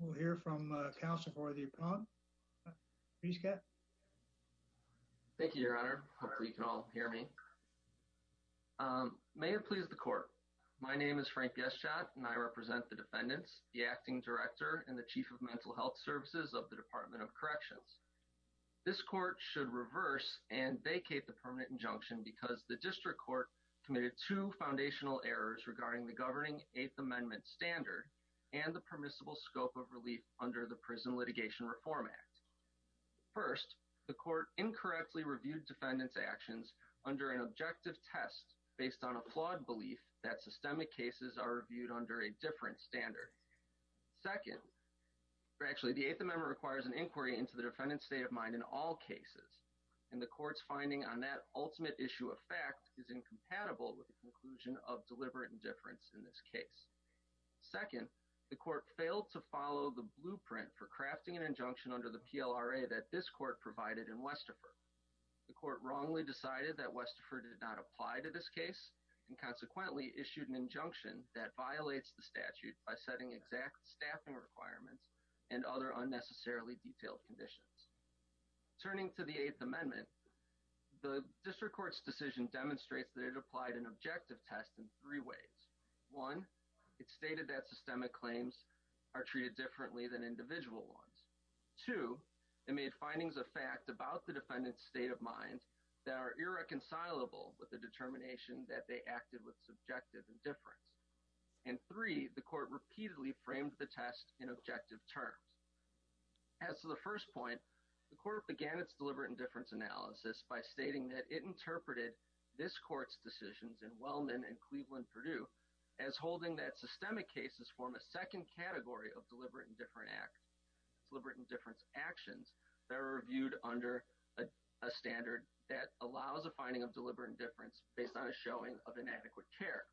We'll hear from uh counsel for the upon. Please go. Thank you your honor. Hopefully you can all hear me. Um may it please the court. My name is Frank Geschat and I represent the defendants, the acting director, and the chief of mental health services of the department of corrections. This court should reverse and vacate the permanent injunction because the district court committed two foundational errors regarding the governing eighth amendment standard and the permissible scope of relief under the prison litigation reform act. First, the court incorrectly reviewed defendant's actions under an objective test based on a flawed belief that systemic cases are reviewed under a different standard. Second, actually the eighth amendment requires an inquiry into the defendant's state of mind in all cases and the court's finding on that ultimate issue of fact is incompatible with the conclusion of deliberate indifference in this case. Second, the court failed to follow the blueprint for crafting an injunction under the PLRA that this court provided in Westerfer. The court wrongly decided that Westerfer did not apply to this case and consequently issued an injunction that violates the statute by setting exact staffing requirements and other unnecessarily detailed conditions. Turning to the eighth amendment, the district court's decision demonstrates that it applied an objective test in three ways. One, it stated that systemic claims are treated differently than individual ones. Two, it made findings of fact about the defendant's state of mind that are irreconcilable with the determination that they acted with subjective indifference. And three, the court repeatedly framed the test in objective terms. As to the first point, the court began its deliberate indifference analysis by stating that it interpreted this court's decisions in Wellman and Cleveland-Purdue as holding that systemic cases form a second category of deliberate indifference actions that are reviewed under a standard that allows a finding of deliberate indifference based on a showing of inadequate care.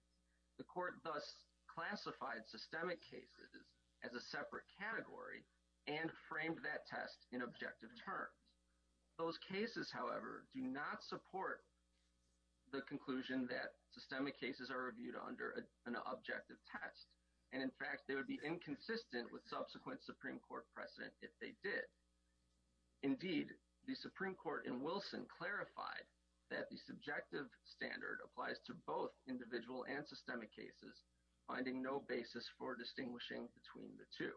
The court thus classified systemic cases as a separate category and framed that test in objective terms. Those cases, however, do not support the conclusion that systemic cases are reviewed under an objective test. And in fact, they would be inconsistent with subsequent Supreme Court precedent if they did. Indeed, the Supreme Court in Wilson clarified that the subjective standard applies to both individual and systemic cases, finding no basis for distinguishing between the two.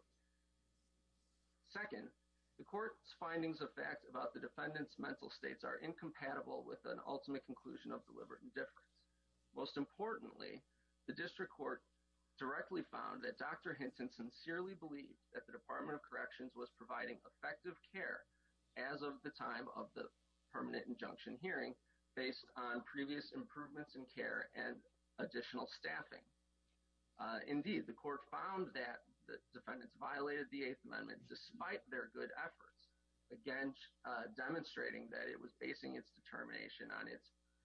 Second, the court's findings of fact about the defendant's mental states are incompatible with an ultimate conclusion of deliberate indifference. Most importantly, the district court directly found that Dr. Hinton sincerely believed that the Department of Corrections was providing effective care as of the time of the permanent injunction hearing based on previous improvements in care and additional staffing. Indeed, the court found that the defendants violated the Eighth Amendment despite their good efforts against demonstrating that it was basing its determination on its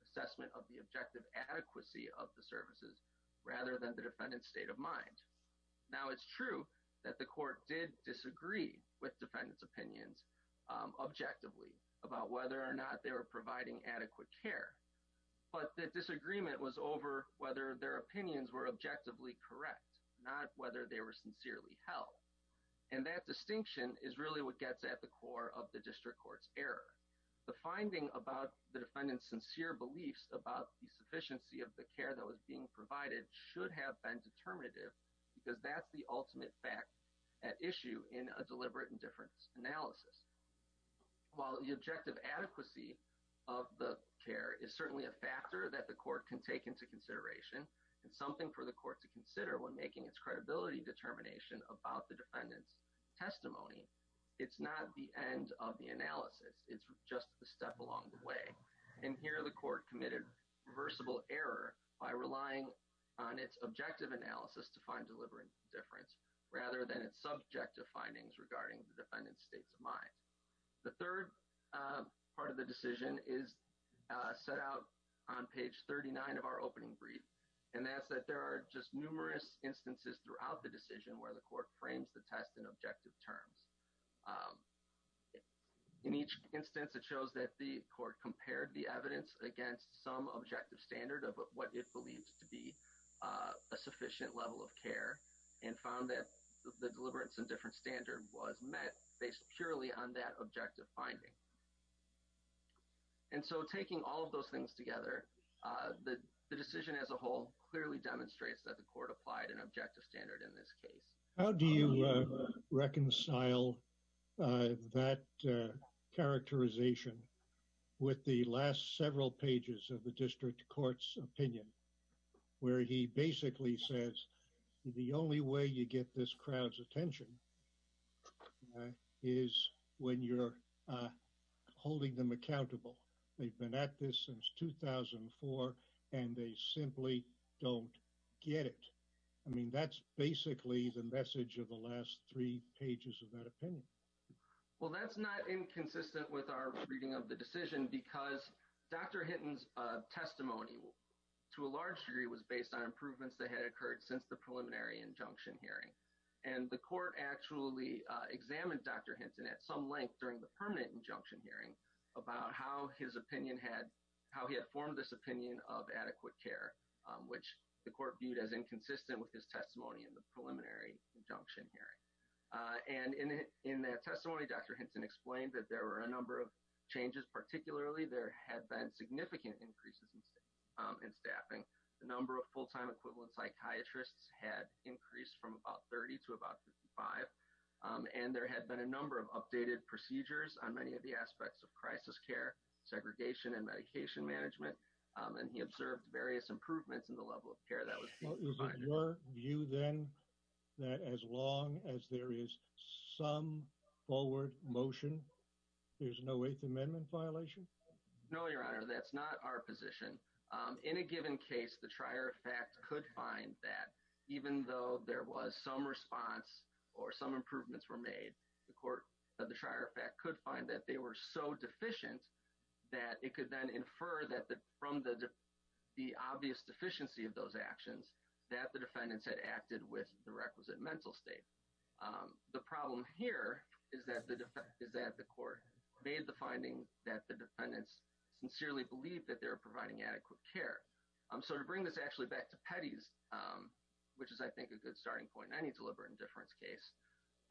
assessment of the objective adequacy of the services rather than the defendant's state of mind. Now, it's true that the court did disagree with defendants' opinions objectively about whether or not they were providing adequate care, but the disagreement was over whether their opinions were objectively correct, not whether they were sincerely held. And that distinction is really what gets at the core of the district court's error. The finding about the defendant's sincere beliefs about the sufficiency of the care that was being provided should have been determinative because that's the ultimate fact at issue in a deliberate indifference analysis. While the objective adequacy of the care is certainly a factor that the court can take into consideration and something for the court to consider when making its credibility determination about the defendant's testimony, it's not the end of the analysis. It's just a step along the way. And here, the court committed reversible error by relying on its objective analysis to find states of mind. The third part of the decision is set out on page 39 of our opening brief, and that's that there are just numerous instances throughout the decision where the court frames the test in objective terms. In each instance, it shows that the court compared the evidence against some objective standard of what it believes to be a sufficient level of care and found that the deliberate indifference standard was met based purely on that objective finding. And so, taking all of those things together, the decision as a whole clearly demonstrates that the court applied an objective standard in this case. How do you reconcile that characterization with the last several pages of the district court's opinion, where he basically says, the only way you get this crowd's attention is when you're holding them accountable. They've been at this since 2004, and they simply don't get it. I mean, that's basically the message of the last three pages of that opinion. Well, that's not inconsistent with our reading of the decision because Dr. Hinton's testimony, to a large degree, was based on improvements that occurred since the preliminary injunction hearing. And the court actually examined Dr. Hinton at some length during the permanent injunction hearing about how his opinion had, how he had formed this opinion of adequate care, which the court viewed as inconsistent with his testimony in the preliminary injunction hearing. And in that testimony, Dr. Hinton explained that there were a number of changes, particularly there had been significant increases in staffing, the number of full-time equivalent psychiatrists had increased from about 30 to about 55, and there had been a number of updated procedures on many of the aspects of crisis care, segregation, and medication management. And he observed various improvements in the level of care that was provided. Is it your view, then, that as long as there is some forward motion, there's no Eighth Amendment violation? No, Your Honor, that's not our position. In a given case, the trier of fact could find that even though there was some response or some improvements were made, the court of the trier of fact could find that they were so deficient that it could then infer that from the obvious deficiency of those actions that the defendants had acted with the requisite mental state. The problem here is that the court made the finding that the defendants sincerely believed that they were providing adequate care. So to bring this actually back to Petty's, which is, I think, a good starting point in any deliberate indifference case,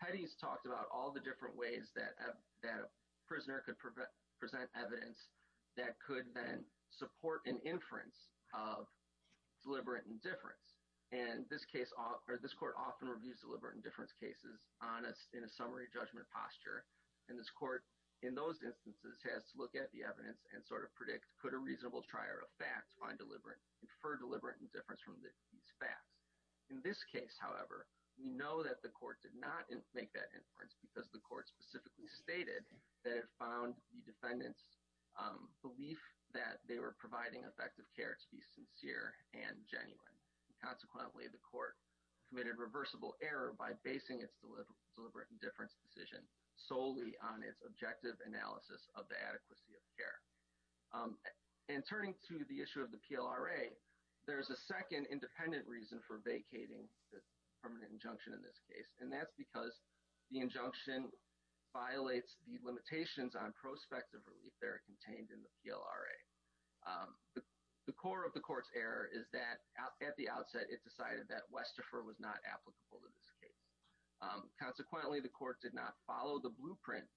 Petty's talked about all the different ways that a prisoner could present evidence that could then support an inference of deliberate indifference. And this case, or this court, often reviews deliberate indifference cases honest in a summary judgment posture. And this court, in those instances, has to look at the evidence and sort of predict, could a reasonable trier of fact infer deliberate indifference from these facts? In this case, however, we know that the court did not make that inference because the court specifically stated that it found the defendants' belief that they were providing effective care to be sincere and genuine. Consequently, the court committed reversible error by basing its deliberate indifference decision solely on its objective analysis of the adequacy of care. And turning to the issue of the PLRA, there's a second independent reason for vacating the permanent injunction in this case, and that's because the injunction violates the limitations on prospective relief that are contained in the PLRA. The core of the court's error is that at the outset it decided that Westepher was not applicable to this case. Consequently, the court did not follow the blueprint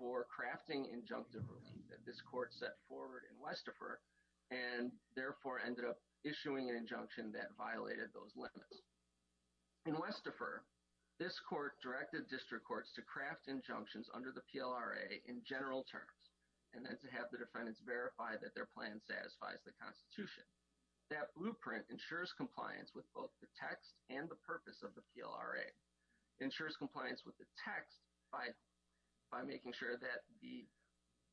for crafting injunctive relief that this court set forward in Westepher and therefore ended up issuing an injunction that violated those limits. In Westepher, this court directed district courts to craft injunctions under the PLRA in general terms and then to have the defendants verify that their plan satisfies the Constitution. That blueprint ensures compliance with both the text and the purpose of the PLRA, ensures compliance with the text by making sure that the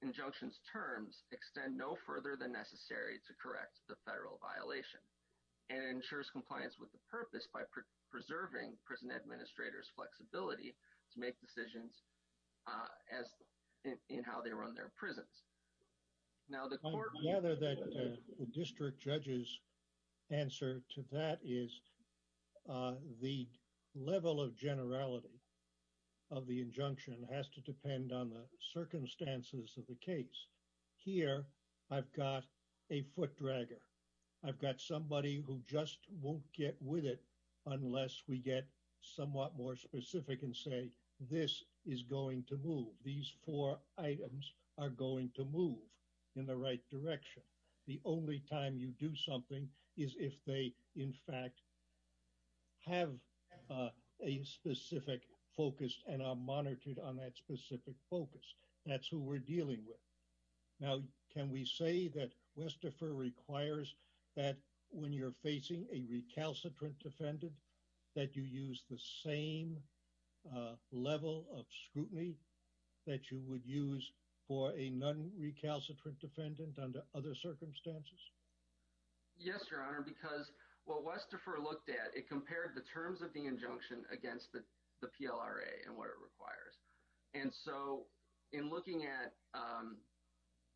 injunction's terms extend no further than necessary to correct the federal violation, and ensures compliance with the purpose by preserving prison administrators' flexibility to make decisions as in how they run their prisons. Now the court... I gather that the district judge's answer to that is the level of generality of the injunction has to depend on the circumstances of the case. Here I've got a foot This is going to move. These four items are going to move in the right direction. The only time you do something is if they in fact have a specific focus and are monitored on that specific focus. That's who we're dealing with. Now can we say that Westepher requires that when you're facing a recalcitrant defendant that you use the same level of scrutiny that you would use for a non-recalcitrant defendant under other circumstances? Yes, Your Honor, because what Westepher looked at, it compared the terms of the injunction against the PLRA and what it requires. And so in looking at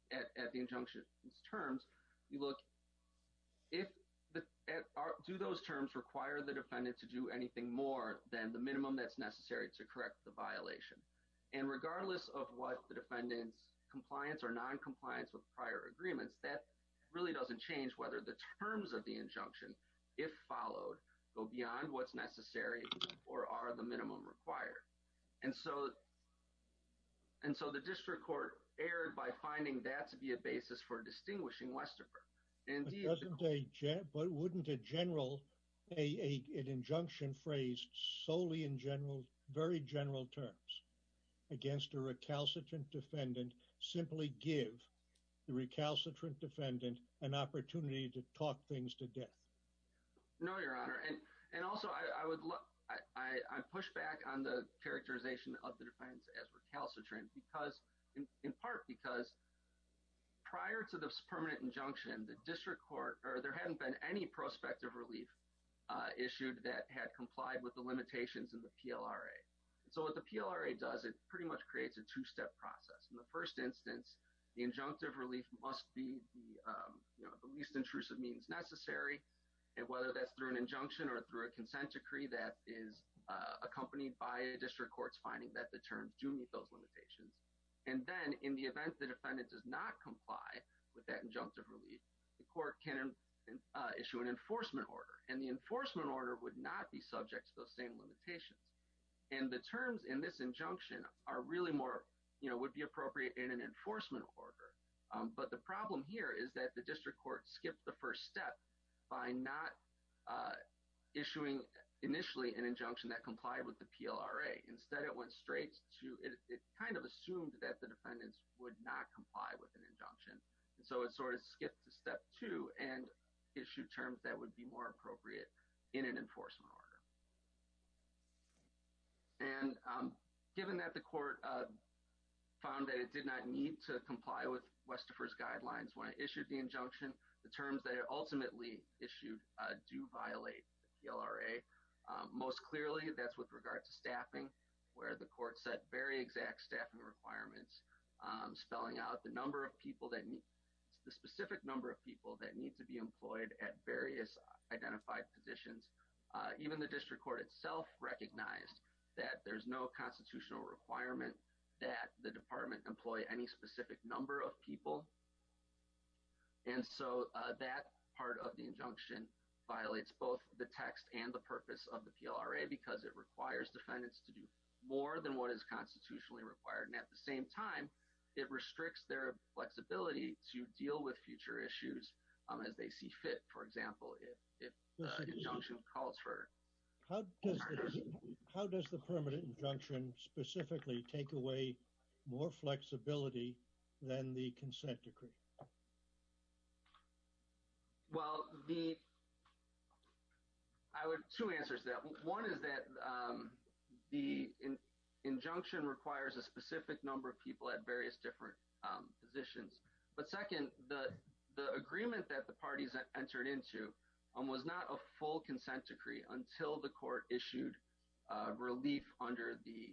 the injunction's terms, you look, do those terms require the defendant to do anything more than the minimum that's necessary to correct the violation? And regardless of what the defendant's compliance or non-compliance with prior agreements, that really doesn't change whether the terms of the injunction, if followed, go beyond what's necessary or are the minimum required. And so the district court erred by finding that to be a basis for distinguishing Westepher. But wouldn't a general, an injunction phrased solely in general, very general terms against a recalcitrant defendant simply give the recalcitrant defendant an opportunity to talk things to death? No, Your Honor. And also I would look, I push back on the characterization of the defense as recalcitrant because, in part because prior to this permanent injunction, the district court, or there hadn't been any prospective relief issued that had complied with the limitations of the PLRA. So what the PLRA does, it pretty much creates a two-step process. In the first instance, the injunctive relief must be the least intrusive means necessary. And whether that's through an injunction or through a consent decree that is accompanied by a district court's finding that the terms do meet those limitations. And then in the event the defendant does not comply with that injunctive relief, the court can issue an enforcement order. And the enforcement order would not be subject to those same limitations. And the terms in this injunction are really more, you know, would be appropriate in an enforcement order. But the problem here is that the district court skipped the first step by not issuing initially an injunction that complied with the PLRA. Instead, it went straight to, it kind of assumed that the defendants would not comply with an injunction. And so it sort of skipped to step two and issued terms that would be more appropriate in an enforcement order. And given that the court found that it did not need to comply with Westifer's guidelines when it issued the injunction, the terms that it that's with regard to staffing, where the court set very exact staffing requirements, spelling out the number of people that need, the specific number of people that need to be employed at various identified positions. Even the district court itself recognized that there's no constitutional requirement that the department employ any specific number of people. And so that part of the injunction violates both the text and the purpose of the PLRA because it requires defendants to do more than what is constitutionally required. And at the same time, it restricts their flexibility to deal with future issues as they see fit. For example, if the injunction calls for. How does the permanent injunction specifically take away more flexibility than the consent decree? Well, the, I would, two answers to that. One is that the injunction requires a specific number of people at various different positions. But second, the agreement that the parties entered into was not a full consent decree until the court issued relief under the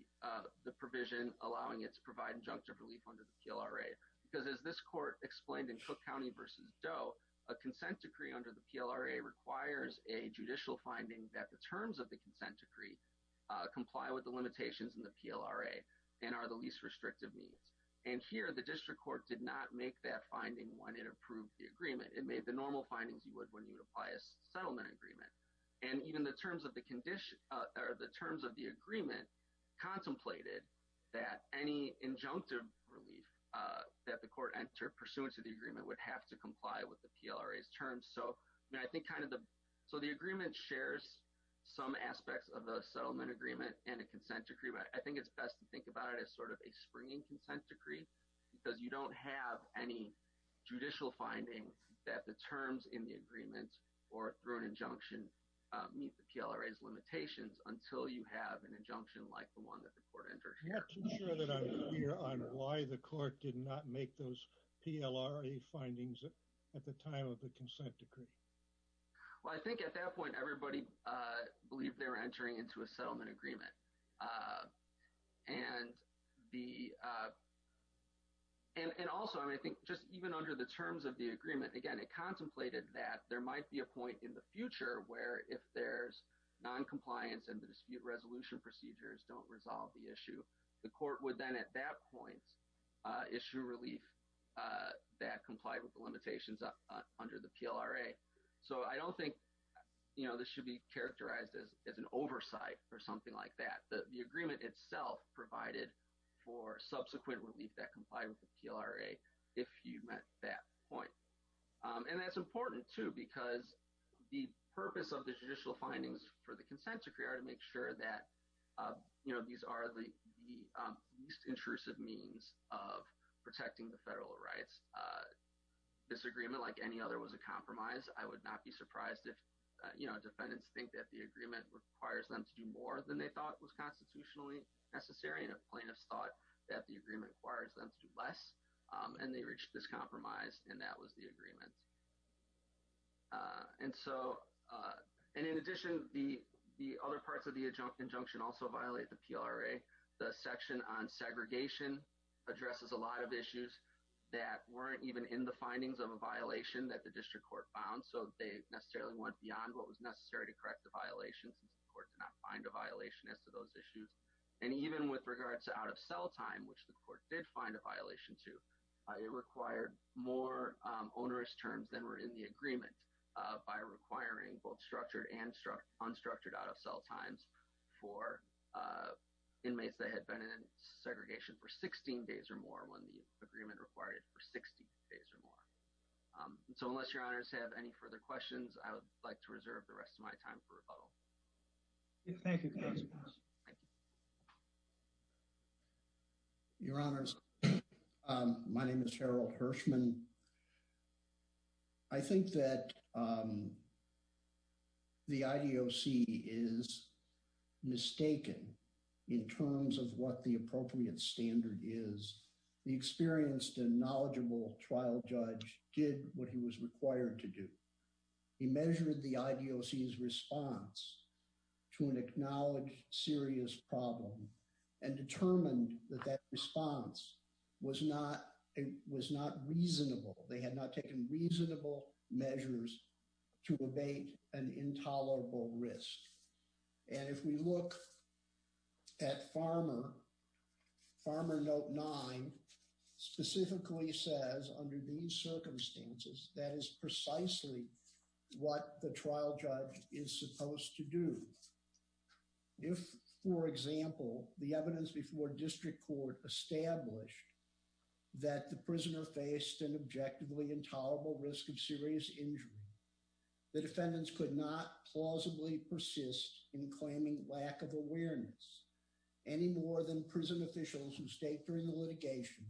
provision allowing it to provide injunctive relief under the PLRA. Because as this court explained in Doe, a consent decree under the PLRA requires a judicial finding that the terms of the consent decree comply with the limitations in the PLRA and are the least restrictive needs. And here, the district court did not make that finding when it approved the agreement. It made the normal findings you would when you would apply a settlement agreement. And even the terms of the condition, or the terms of the agreement contemplated that any injunctive relief that the court entered pursuant to the agreement would have to comply with the PLRA's terms. So, I mean, I think kind of the, so the agreement shares some aspects of a settlement agreement and a consent decree, but I think it's best to think about it as sort of a springing consent decree because you don't have any judicial findings that the terms in the agreement or through an injunction meet the PLRA's limitations until you have an injunction like the one that the court entered. I'm not too sure that I'm clear on why the court did not make those PLRA findings at the time of the consent decree. Well, I think at that point, everybody believed they were entering into a settlement agreement. And the, and also, I mean, I think just even under the terms of the agreement, again, it contemplated that there might be a point in the the court would then at that point issue relief that complied with the limitations under the PLRA. So, I don't think, you know, this should be characterized as an oversight or something like that. The agreement itself provided for subsequent relief that complied with the PLRA if you met that point. And that's important, too, because the purpose of the judicial findings for the consent decree are to make sure that, you know, these are the least intrusive means of protecting the federal rights. This agreement, like any other, was a compromise. I would not be surprised if, you know, defendants think that the agreement requires them to do more than they thought was constitutionally necessary. And if plaintiffs thought that the agreement requires them to do less, and they reached this compromise, and that was the agreement. And so, and in addition, the other parts of the injunction also violate the PLRA. The section on segregation addresses a lot of issues that weren't even in the findings of a violation that the district court found, so they necessarily went beyond what was necessary to correct the violations, since the court did not find a violation as to those issues. And even with regards to out-of-cell time, which the court did find a violation to, it required more onerous terms than were in the agreement by requiring both structured and unstructured out-of-cell times for inmates that had been in segregation for 16 days or more, when the agreement required it for 60 days or more. So unless your honors have any further questions, I would like to reserve the rest of my time for rebuttal. Thank you. Your honors, my name is Cheryl Hirschman. I think that the IDOC is mistaken in terms of what the appropriate standard is. The experienced and knowledgeable trial judge did what he was required to do. He measured the IDOC's response to an acknowledged serious problem and determined that that response was not reasonable. They had not taken reasonable measures to abate an intolerable risk. And if we look at Farmer, Farmer Note 9 specifically says, under these circumstances, that is precisely what the trial judge is supposed to do. If, for example, the evidence before that the prisoner faced an objectively intolerable risk of serious injury, the defendants could not plausibly persist in claiming lack of awareness any more than prison officials who state during the litigation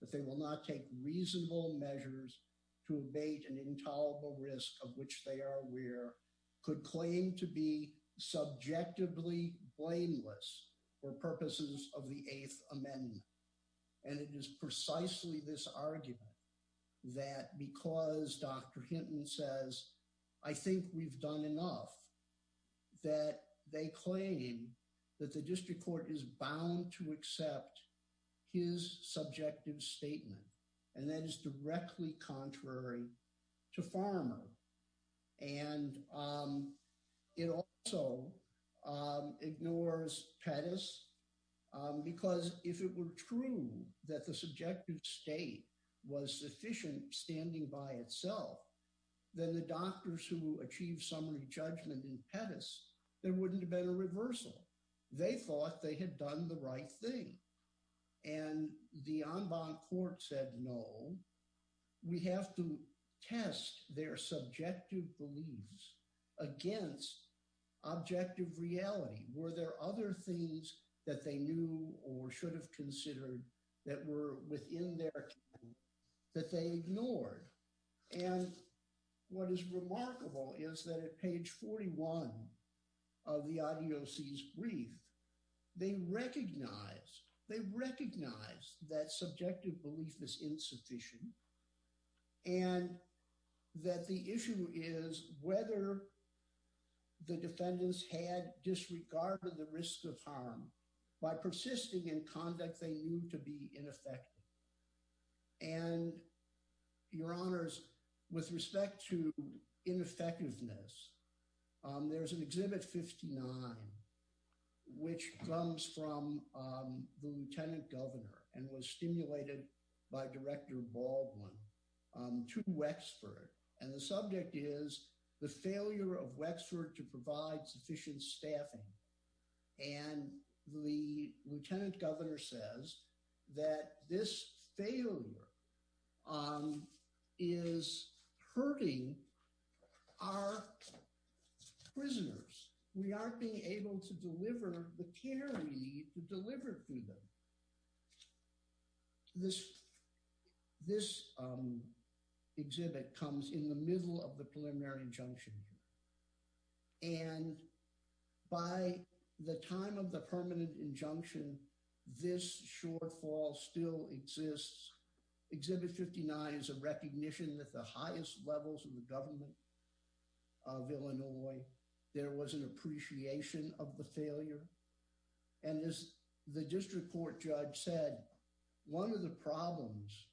that they will not take reasonable measures to abate an intolerable risk of which they are aware could claim to be subjectively blameless for purposes of the Eighth Amendment. And it is precisely this argument that because Dr. Hinton says, I think we've done enough, that they claim that the district court is bound to accept his subjective statement. And that is directly contrary to Farmer. And it also ignores Pettus, because if it were true that the subjective state was sufficient standing by itself, then the doctors who achieved summary judgment in Pettus, there wouldn't have been a reversal. They thought they had done the right thing. And the en banc court said, no, we have to test their subjective beliefs against objective reality. Were there other things that they knew or should have considered that were within their account that they ignored? And what is remarkable is that at page 41 of the IDOC's brief, they recognize that subjective belief is insufficient. And that the issue is whether the defendants had disregarded the risk of harm by persisting in conduct they knew to be ineffective. And your honors, with respect to ineffectiveness, there's an exhibit 59, which comes from the Lieutenant Governor and was stimulated by Director Baldwin to Wexford. And the subject is the failure of Wexford to provide sufficient prisoners. We aren't being able to deliver the care we need to deliver for them. This exhibit comes in the middle of the preliminary injunction here. And by the time of the permanent injunction, this shortfall still exists. Exhibit 59 is recognition that the highest levels of the government of Illinois, there was an appreciation of the failure. And as the district court judge said, one of the problems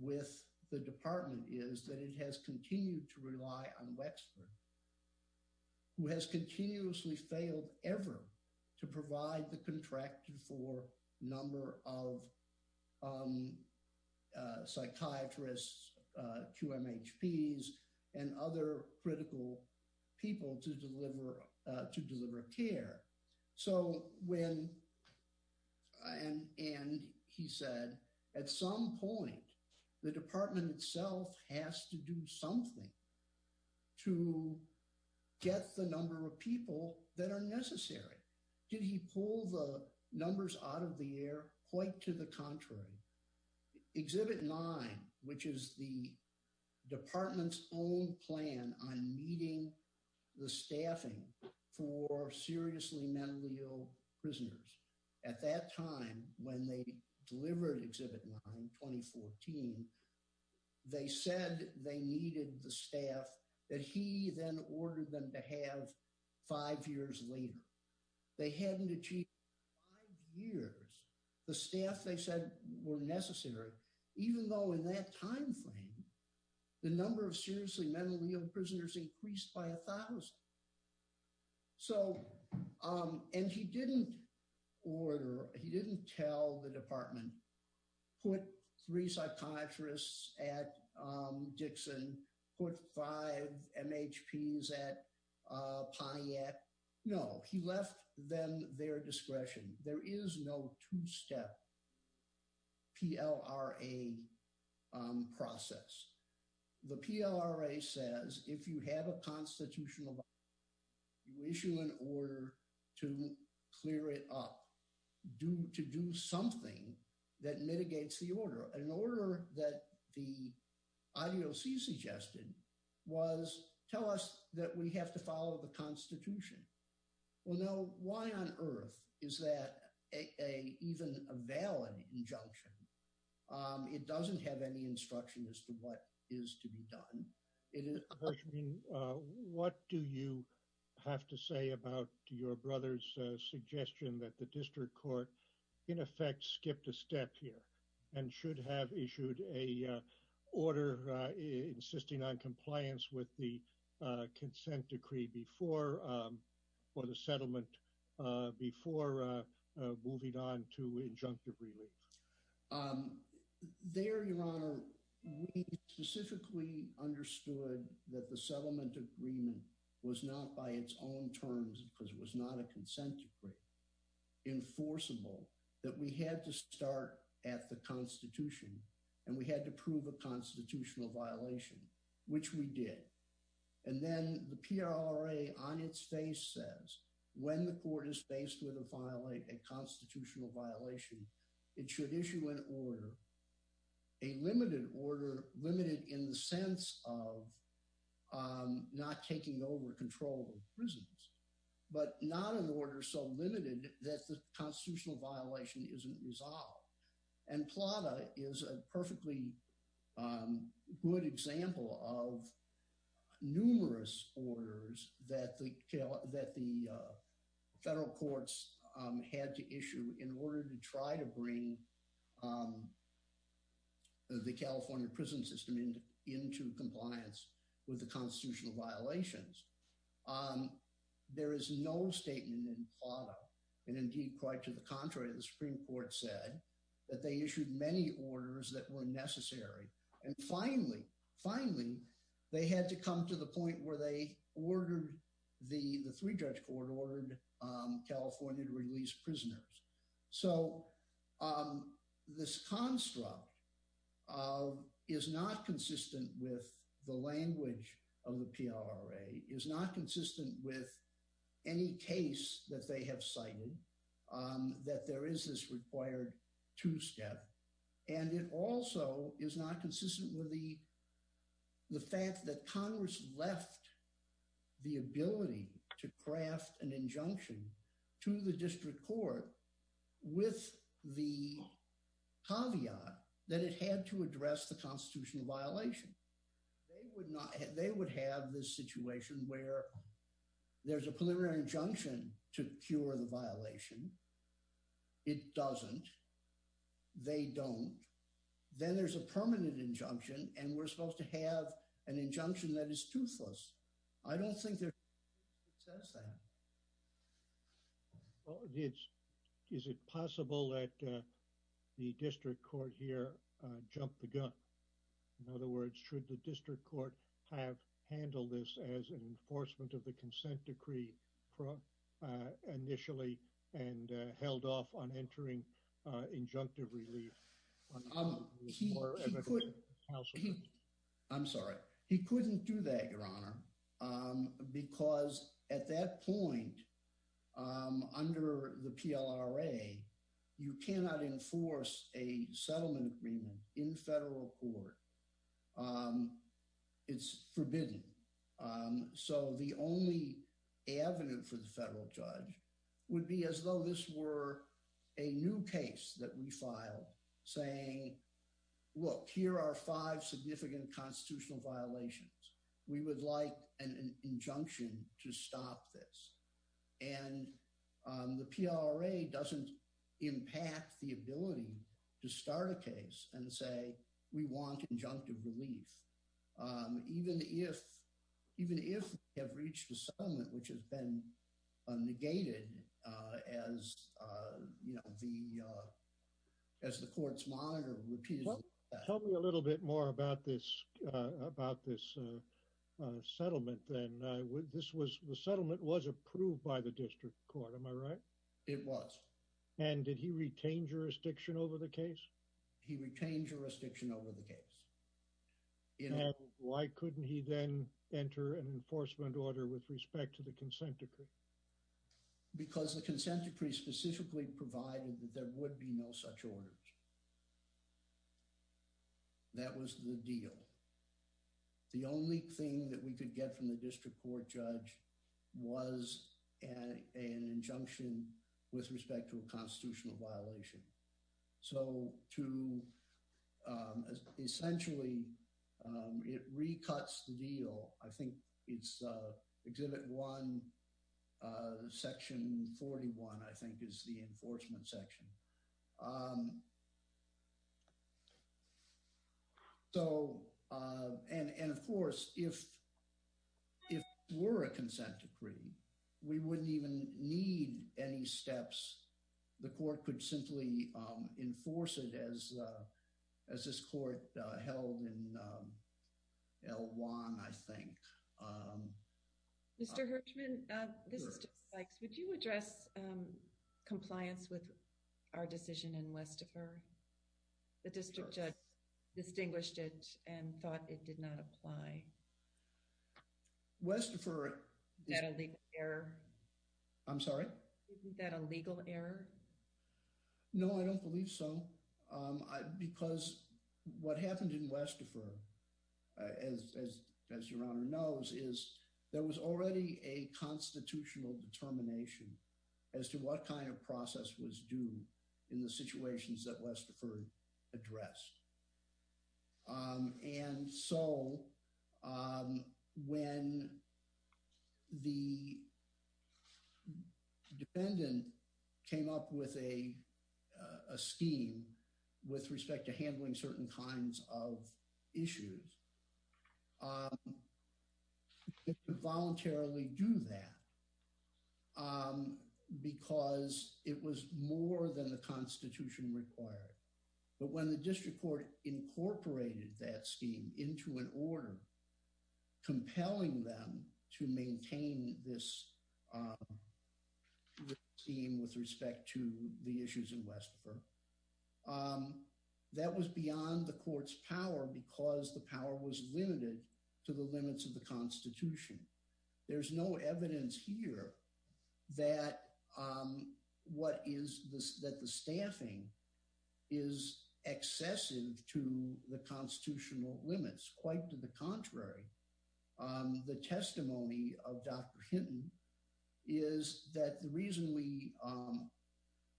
with the department is that it has continued to rely on Wexford, who has continuously failed ever to provide the contracted for number of psychiatrists, QMHPs, and other critical people to deliver care. And he said, at some point, the department itself has to do something to get the number of people that are out of the air, quite to the contrary. Exhibit 9, which is the department's own plan on meeting the staffing for seriously mentally ill prisoners. At that time, when they delivered Exhibit 9, 2014, they said they needed the staff that he then ordered them to have five years later. They hadn't achieved five years. The staff they said were necessary, even though in that time frame, the number of seriously mentally ill prisoners increased by a thousand. So, and he didn't order, he didn't tell the department, put three psychiatrists at Dixon, put five MHPs at Piatt. No, he left them their discretion. There is no two-step PLRA process. The PLRA says, if you have a constitutional violation, you issue an order to clear it up, to do something that mitigates the order. An order that the IDOC suggested was, tell us that we have to follow the constitution. Well, no, why on earth is that even a valid injunction? It doesn't have any instruction as to what is to be done. What do you have to say about your brother's suggestion that the district court, in effect, skipped a step here and should have issued a order insisting on compliance with the consent decree before, for the settlement, before moving on to injunctive relief? Um, there, your honor, we specifically understood that the settlement agreement was not by its own terms, because it was not a consent decree, enforceable, that we had to start at the constitution and we had to prove a constitutional violation, which we did. And then the PLRA on its face says, when the court is faced with a violate, a constitutional violation, it should issue an order, a limited order, limited in the sense of not taking over control of prisons, but not an order so limited that the constitutional violation isn't resolved. And PLRA is a perfectly good example of numerous orders that the federal courts had to issue in order to try to bring the California prison system into compliance with the constitutional violations. There is no statement in PLRA, and indeed, quite to the contrary, the Supreme Court said that they issued many orders that were necessary. And finally, finally, they had to come to the point where they ordered, the three-judge court ordered California to release prisoners. So this construct is not consistent with the language of the PLRA, is not consistent with any case that they have cited, that there is this required two-step. And it also is not consistent with the fact that Congress left the ability to craft an injunction to the district court with the caveat that it had to address the constitutional violation. They would not, they would have this situation where there's a preliminary injunction to cure the violation. It doesn't. They don't. Then there's a permanent injunction, and we're supposed to have an injunction that is toothless. I don't think there says that. Well, it's, is it possible that the district court here jumped the gun? In other words, should the district court have handled this as an enforcement of the consent decree initially and held off on entering injunctive relief? I'm sorry. He couldn't do that, Your Honor, because at that point, under the PLRA, you cannot enforce a settlement agreement in federal court. It's forbidden. So the only avenue for the federal judge would be as though this were a new case that we filed saying, look, here are five significant constitutional violations. We would like an injunction to stop this. And the PLRA doesn't impact the ability to start a case and say, we want injunctive relief. Even if, even if we have reached a settlement which has been negated as, you know, the, as the courts monitor repeatedly. Tell me a little bit more about this, about this settlement then. This was, the settlement was approved by the district court. Am I right? It was. And did he retain jurisdiction over the case? He retained jurisdiction over the case. And why couldn't he then enter an enforcement order with respect to the consent decree? Because the consent decree specifically provided that there would be no such orders. That was the deal. The only thing that we could get from the district court judge was an injunction with respect to a constitutional violation. So to, essentially, it recuts the deal. I think it's Exhibit 1, Section 41, I think is the enforcement section. So, and of course, if it were a consent decree, we wouldn't even need any steps. The court could simply enforce it as, as this court held in L1, I think. Mr. Hirschman, would you address compliance with our decision in Westerfer? The district judge distinguished it and thought it did not apply. Westerfer. Is that a legal error? I'm sorry? Isn't that a legal error? No, I don't believe so. Because what happened in Westerfer, as your honor knows, is there was already a constitutional determination as to what kind of process was due in the situations that Westerfer addressed. And so, when the dependent came up with a scheme with respect to handling certain kinds of issues, it could voluntarily do that because it was more than the Constitution required. But when the district court incorporated that scheme into an order compelling them to maintain this scheme with respect to the issues in Westerfer, that was beyond the court's power because the power was limited to the limits of the Constitution. There's no evidence here that the staffing is excessive to the constitutional limits. Quite to the contrary, the testimony of Dr. Hinton is that the reason we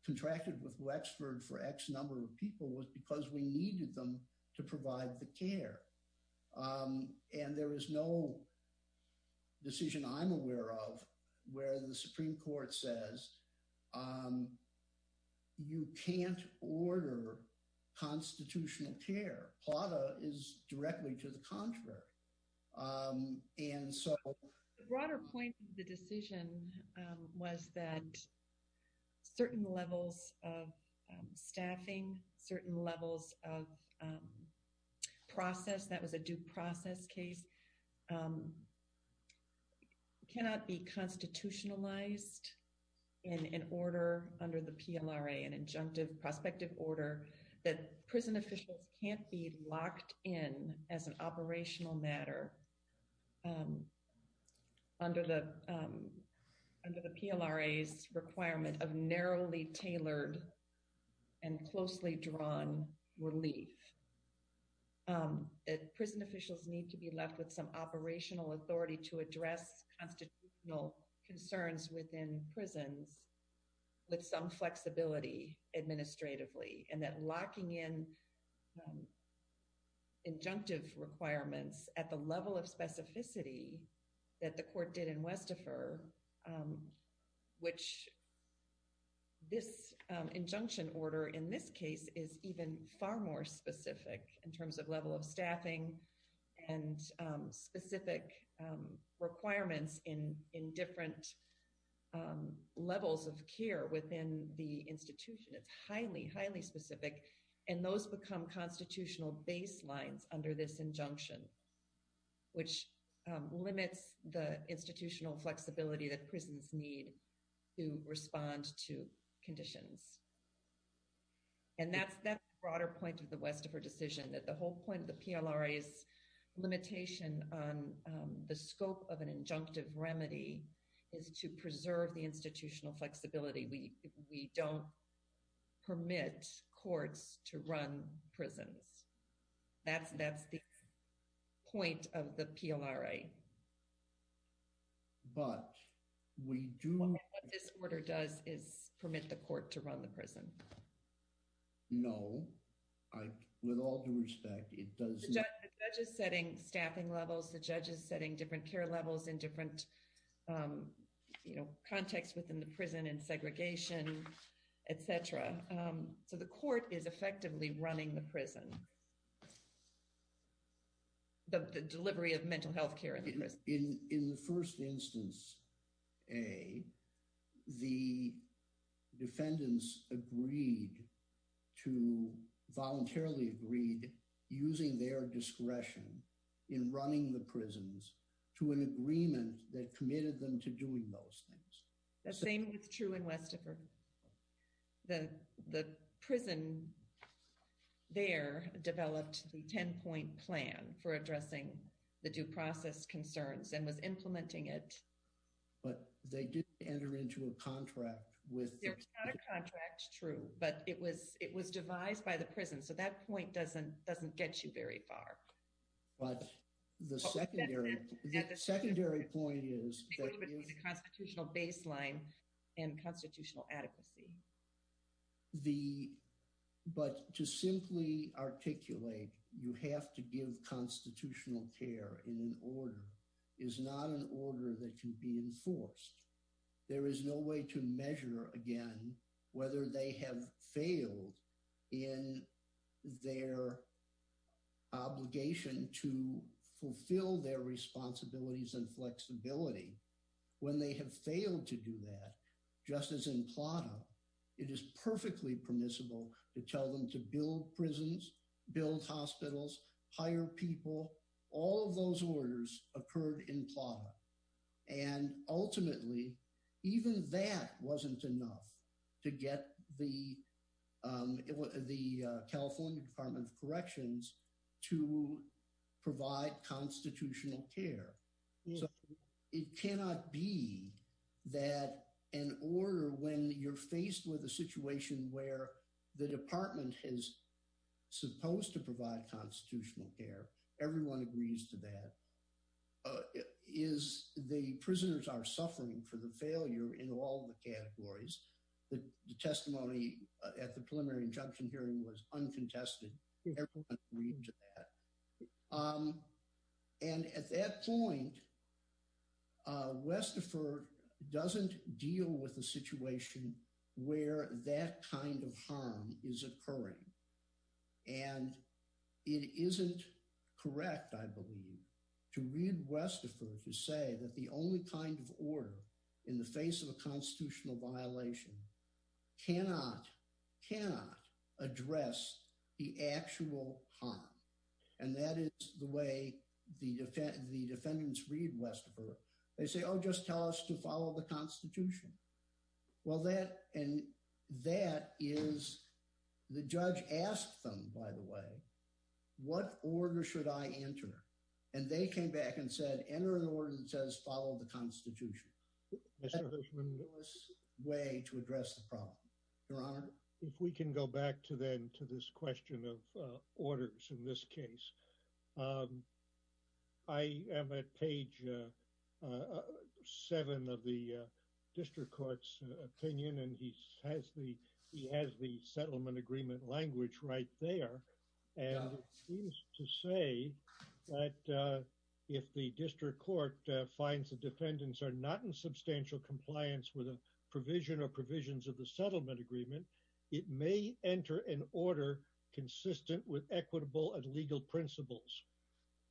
contracted with Wexford for X number of people was because we needed them to provide the care. And there is no decision I'm aware of where the Supreme Court says you can't order constitutional care. Plata is directly to the contrary. And so... The broader point of the decision was that certain levels of staffing, certain levels of that was a due process case, cannot be constitutionalized in an order under the PLRA, an injunctive prospective order, that prison officials can't be locked in as an operational matter under the PLRA's requirement of narrowly tailored and closely drawn relief. That prison officials need to be left with some operational authority to address constitutional concerns within prisons with some flexibility administratively. And that locking in injunctive requirements at the level of specificity that the court did in Westerfer, which this injunction order in this case is even far more specific in terms of level of staffing and specific requirements in different levels of care within the institution. It's highly, highly specific. And those become constitutional baselines under this injunction, which limits the institutional flexibility that prisons need to respond to conditions. And that's that broader point of the Westerfer decision, that the whole point of the PLRA's limitation on the scope of an injunctive remedy is to preserve the institutional flexibility. We don't permit courts to run prisons. That's the point of the PLRA. But we do... What this order does is permit the court to run the prison. No. With all due respect, it does... The judge is setting staffing levels. The judge is setting different care levels in different, you know, contexts within the prison and segregation, etc. So the court is effectively running the prison. The delivery of mental health care. In the first instance, A, the defendants agreed to... Voluntarily agreed using their discretion in running the prisons to an agreement that committed them to doing those things. The same is true in Westerfer. The prison there developed the 10-point plan for addressing the due process concerns and was implementing it. But they did enter into a contract with... It's not a contract, true. But it was devised by the prison. So that point doesn't get you very far. But the secondary point is... The... But to simply articulate, you have to give constitutional care in an order, is not an order that can be enforced. There is no way to measure, again, whether they have failed in their obligation to fulfill their responsibilities and flexibility. When they have failed to do that, just as in Plata, it is perfectly permissible to tell them to build prisons, build hospitals, hire people. All of those orders occurred in Plata. And ultimately, even that wasn't enough to get the... The California Department of Corrections to provide constitutional care. So it cannot be that an order, when you're faced with a situation where the department is supposed to provide constitutional care, everyone agrees to that, is the prisoners are suffering for the failure in all the categories. The testimony at the preliminary injunction hearing was uncontested. Everyone agreed to that. And at that point, Westerford doesn't deal with a situation where that kind of harm is occurring. And it isn't correct, I believe, to read Westerford to say that the only kind of order in the face of a constitutional violation cannot address the actual harm. And that is the way the defendants read Westerford. They say, oh, just tell us to follow the Constitution. Well, that and that is... The judge asked them, by the way, what order should I enter? And they came back and said, enter an order that says follow the Constitution. That's the best way to address the problem. Your Honor? If we can go back to then to this question of orders in this case. I am at page seven of the district court's opinion, and he has the settlement agreement language right there. And it seems to say that if the district court finds the defendants are not in substantial compliance with a provision or provisions of the settlement agreement, it may enter an order consistent with equitable and legal principles.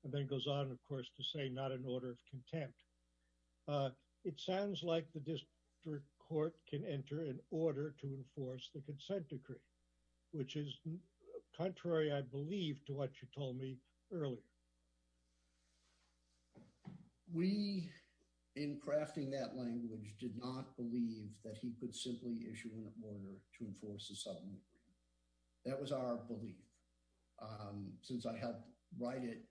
And then goes on, of course, to say not an order of contempt. It sounds like the district court can enter an order to enforce the consent decree, which is contrary, I believe, to what you told me earlier. We, in crafting that language, did not believe that he could simply issue an order to enforce the settlement agreement. That was our belief. Since I had to write it,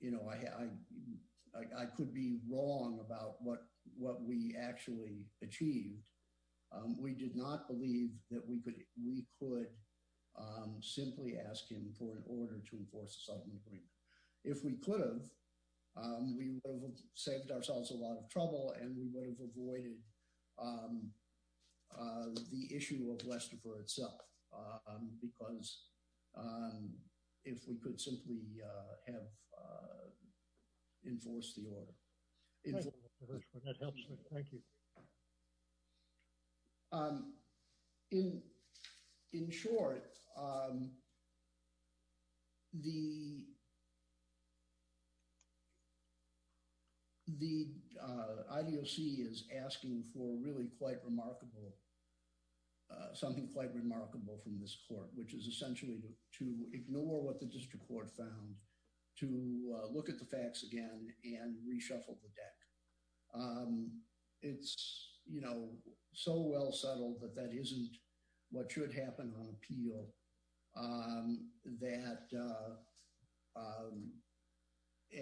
you know, I could be wrong about what we actually achieved. We did not believe that we could simply ask him for an order to enforce the settlement agreement. If we could have, we would have saved ourselves a lot of trouble, and we would have avoided the issue of Westerville itself, because if we could simply have enforced the order. Thank you, Mr. Hirschman. That helps me. Thank you. In short, the IDOC is asking for really quite remarkable, something quite remarkable from this court, which is essentially to ignore what the district court found, to look at the facts again and reshuffle the deck. It's, you know, so well settled that that isn't what should happen on appeal. That,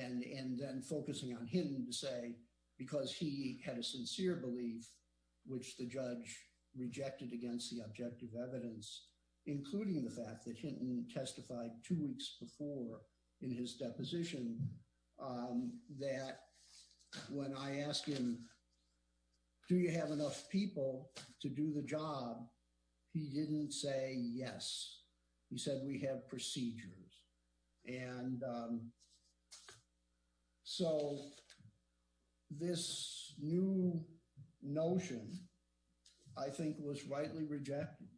and then focusing on Hinton to say, because he had a sincere belief, which the judge rejected against the objective evidence, including the fact that Hinton testified two weeks before in his deposition, that when I asked him, do you have enough people to do the job? He didn't say yes. He said, we have procedures. And so this new notion, I think, was rightly rejected.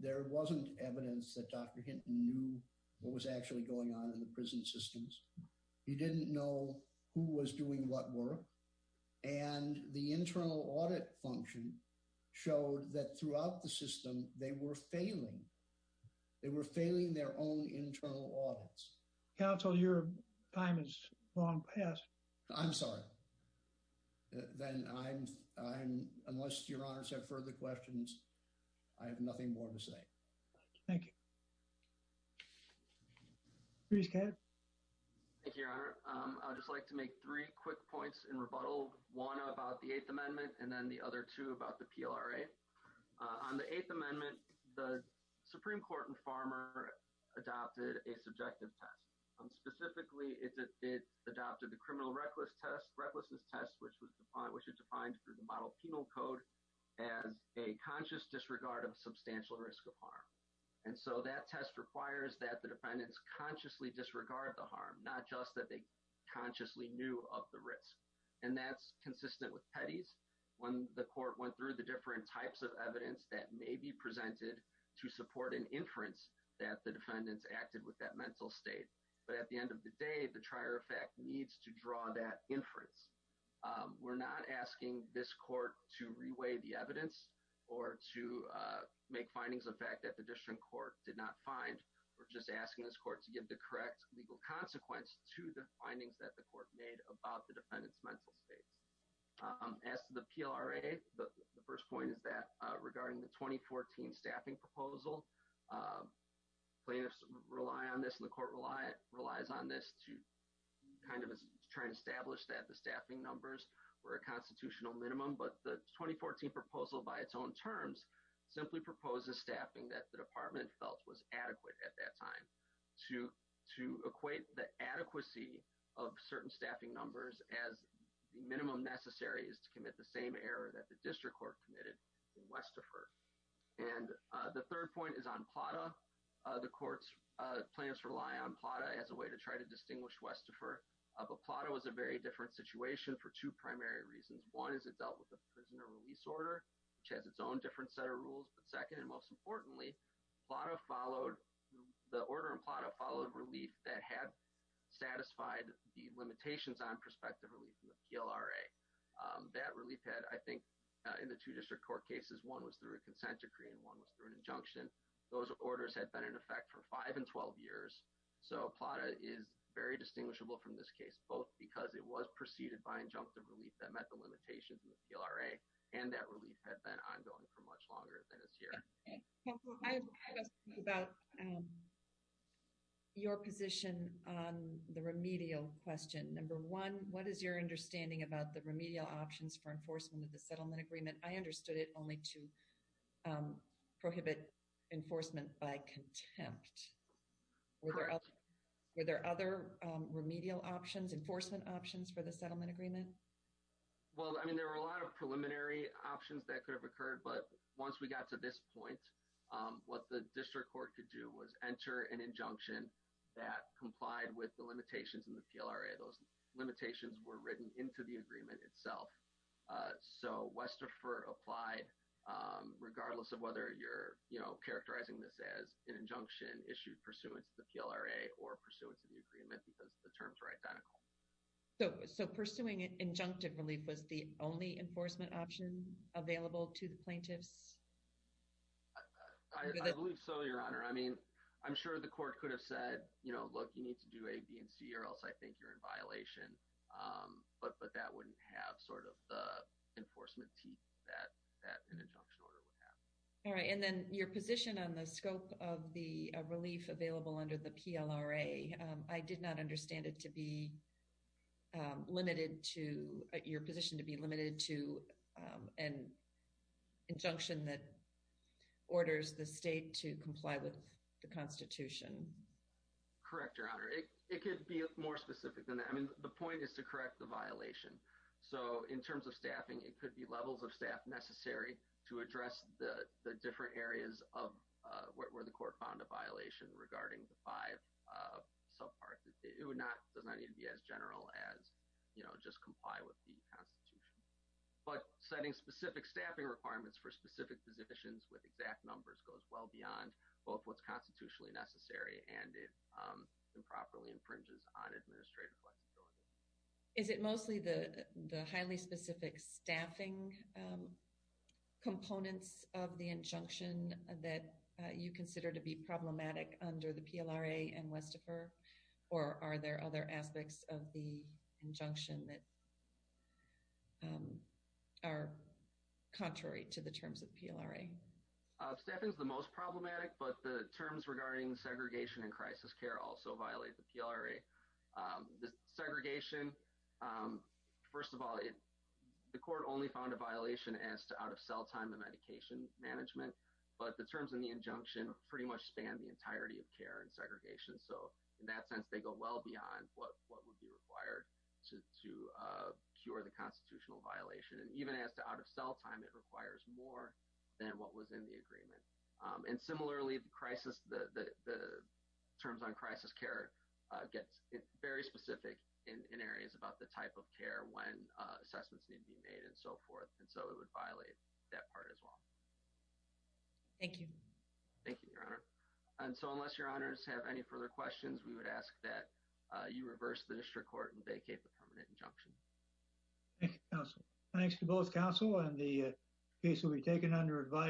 There wasn't evidence that Dr. Hinton knew what was actually going on in the prison systems. He didn't know who was doing what work. And the internal audit function showed that throughout the system, they were failing. They were failing their own internal audits. Counsel, your time is long past. I'm sorry. Then I'm, I'm, unless your honors have further questions, I have nothing more to say. Thank you. Bruce, go ahead. Thank you, your honor. I'd just like to make three quick points in rebuttal. One about the eighth amendment and then the other two about the PLRA. On the eighth amendment, the Supreme Court and farmer adopted a subjective test. Specifically, it adopted the criminal reckless test, recklessness test, which was defined, which is defined through the model penal code as a conscious disregard of substantial risk of harm. And so that test requires that the defendants consciously disregard the harm, not just that they consciously knew of the risk. And that's consistent with Petty's. When the court went through the different types of evidence that may be presented to support an inference that the defendants acted with that mental state. But at the end of the day, the trier effect needs to draw that inference. We're not asking this court to reweigh the evidence or to make findings of fact that the district court did not find. We're just asking this court to give the correct legal consequence to the findings that the court made about the defendants' mental states. As to the PLRA, the first point is that regarding the 2014 staffing proposal, plaintiffs rely on this and the court relies on this to kind of try to establish that the staffing numbers were a constitutional minimum. But the 2014 proposal, by its own terms, simply proposes staffing that the department felt was adequate at that time to equate the adequacy of certain staffing numbers as the minimum necessary is to commit the same error that the district court committed in Westifer. And the third point is on PLRA. The court's plans rely on PLRA as a way to try to distinguish Westifer. But PLRA was a very different situation for two primary reasons. One is it dealt with the prisoner release order, which has its own different set of rules. But second and most importantly, the order in PLRA followed relief that had satisfied the limitations on prospective relief from the PLRA. That relief had, I think, in the two district court cases, one was through a consent decree and one was through an injunction. Those orders had been in effect for five and 12 years. So PLRA is very distinguishable from this case, both because it was preceded by injunctive relief that met the limitations of the PLRA and that relief had been ongoing for much longer than this year. Okay. Council, I have a question about your position on the remedial question. Number one, what is your understanding about the remedial options for enforcement of the settlement agreement? I understood it only to prohibit enforcement by contempt. Correct. Were there other remedial options, enforcement options for the settlement agreement? Well, I mean, there were a lot of preliminary options that could have occurred, but once we got to this point, what the district court could do was enter an injunction that complied with the limitations in the PLRA. Those limitations were written into the agreement itself. So Westerfer applied, regardless of whether you're, you know, pursuant to the PLRA or pursuant to the agreement, because the terms are identical. So pursuing injunctive relief was the only enforcement option available to the plaintiffs? I believe so, Your Honor. I mean, I'm sure the court could have said, you know, look, you need to do A, B, and C, or else I think you're in violation. But that wouldn't have sort of the enforcement teeth that an injunction order would have. All right. And then your position on the scope of the relief available under the PLRA, I did not understand it to be limited to, your position to be limited to an injunction that orders the state to comply with the constitution. Correct, Your Honor. It could be more specific than that. I mean, the point is to correct the violation. So in terms of staffing, it could be levels of staff necessary to address the different areas of where the court found a violation regarding the five subparts. It does not need to be as general as, you know, just comply with the constitution. But setting specific staffing requirements for specific positions with exact numbers goes well beyond both what's constitutionally necessary and it improperly infringes on administrative flexibility. Is it mostly the highly specific staffing components of the injunction that you consider to be problematic under the PLRA and Westifer? Or are there other aspects of the injunction that are contrary to the terms of PLRA? Staffing is the most problematic, but the terms regarding segregation and crisis care also violate the PLRA. The segregation, first of all, the court only found a violation as to out-of-cell time and medication management, but the terms in the injunction pretty much span the entirety of care and segregation. So in that sense, they go well beyond what would be required to cure the constitutional violation. And even as to out-of-cell time, it requires more than what was in the agreement. And similarly, the crisis, the terms on crisis care gets very specific in areas about the type of care when assessments need to be made and so forth. And so it would violate that part as well. Thank you. Thank you, Your Honor. And so unless Your Honors have any further questions, we would ask that you reverse the district court and vacate the permanent injunction. Thank you, counsel. Thanks to both counsel. And the case will be taken under advice.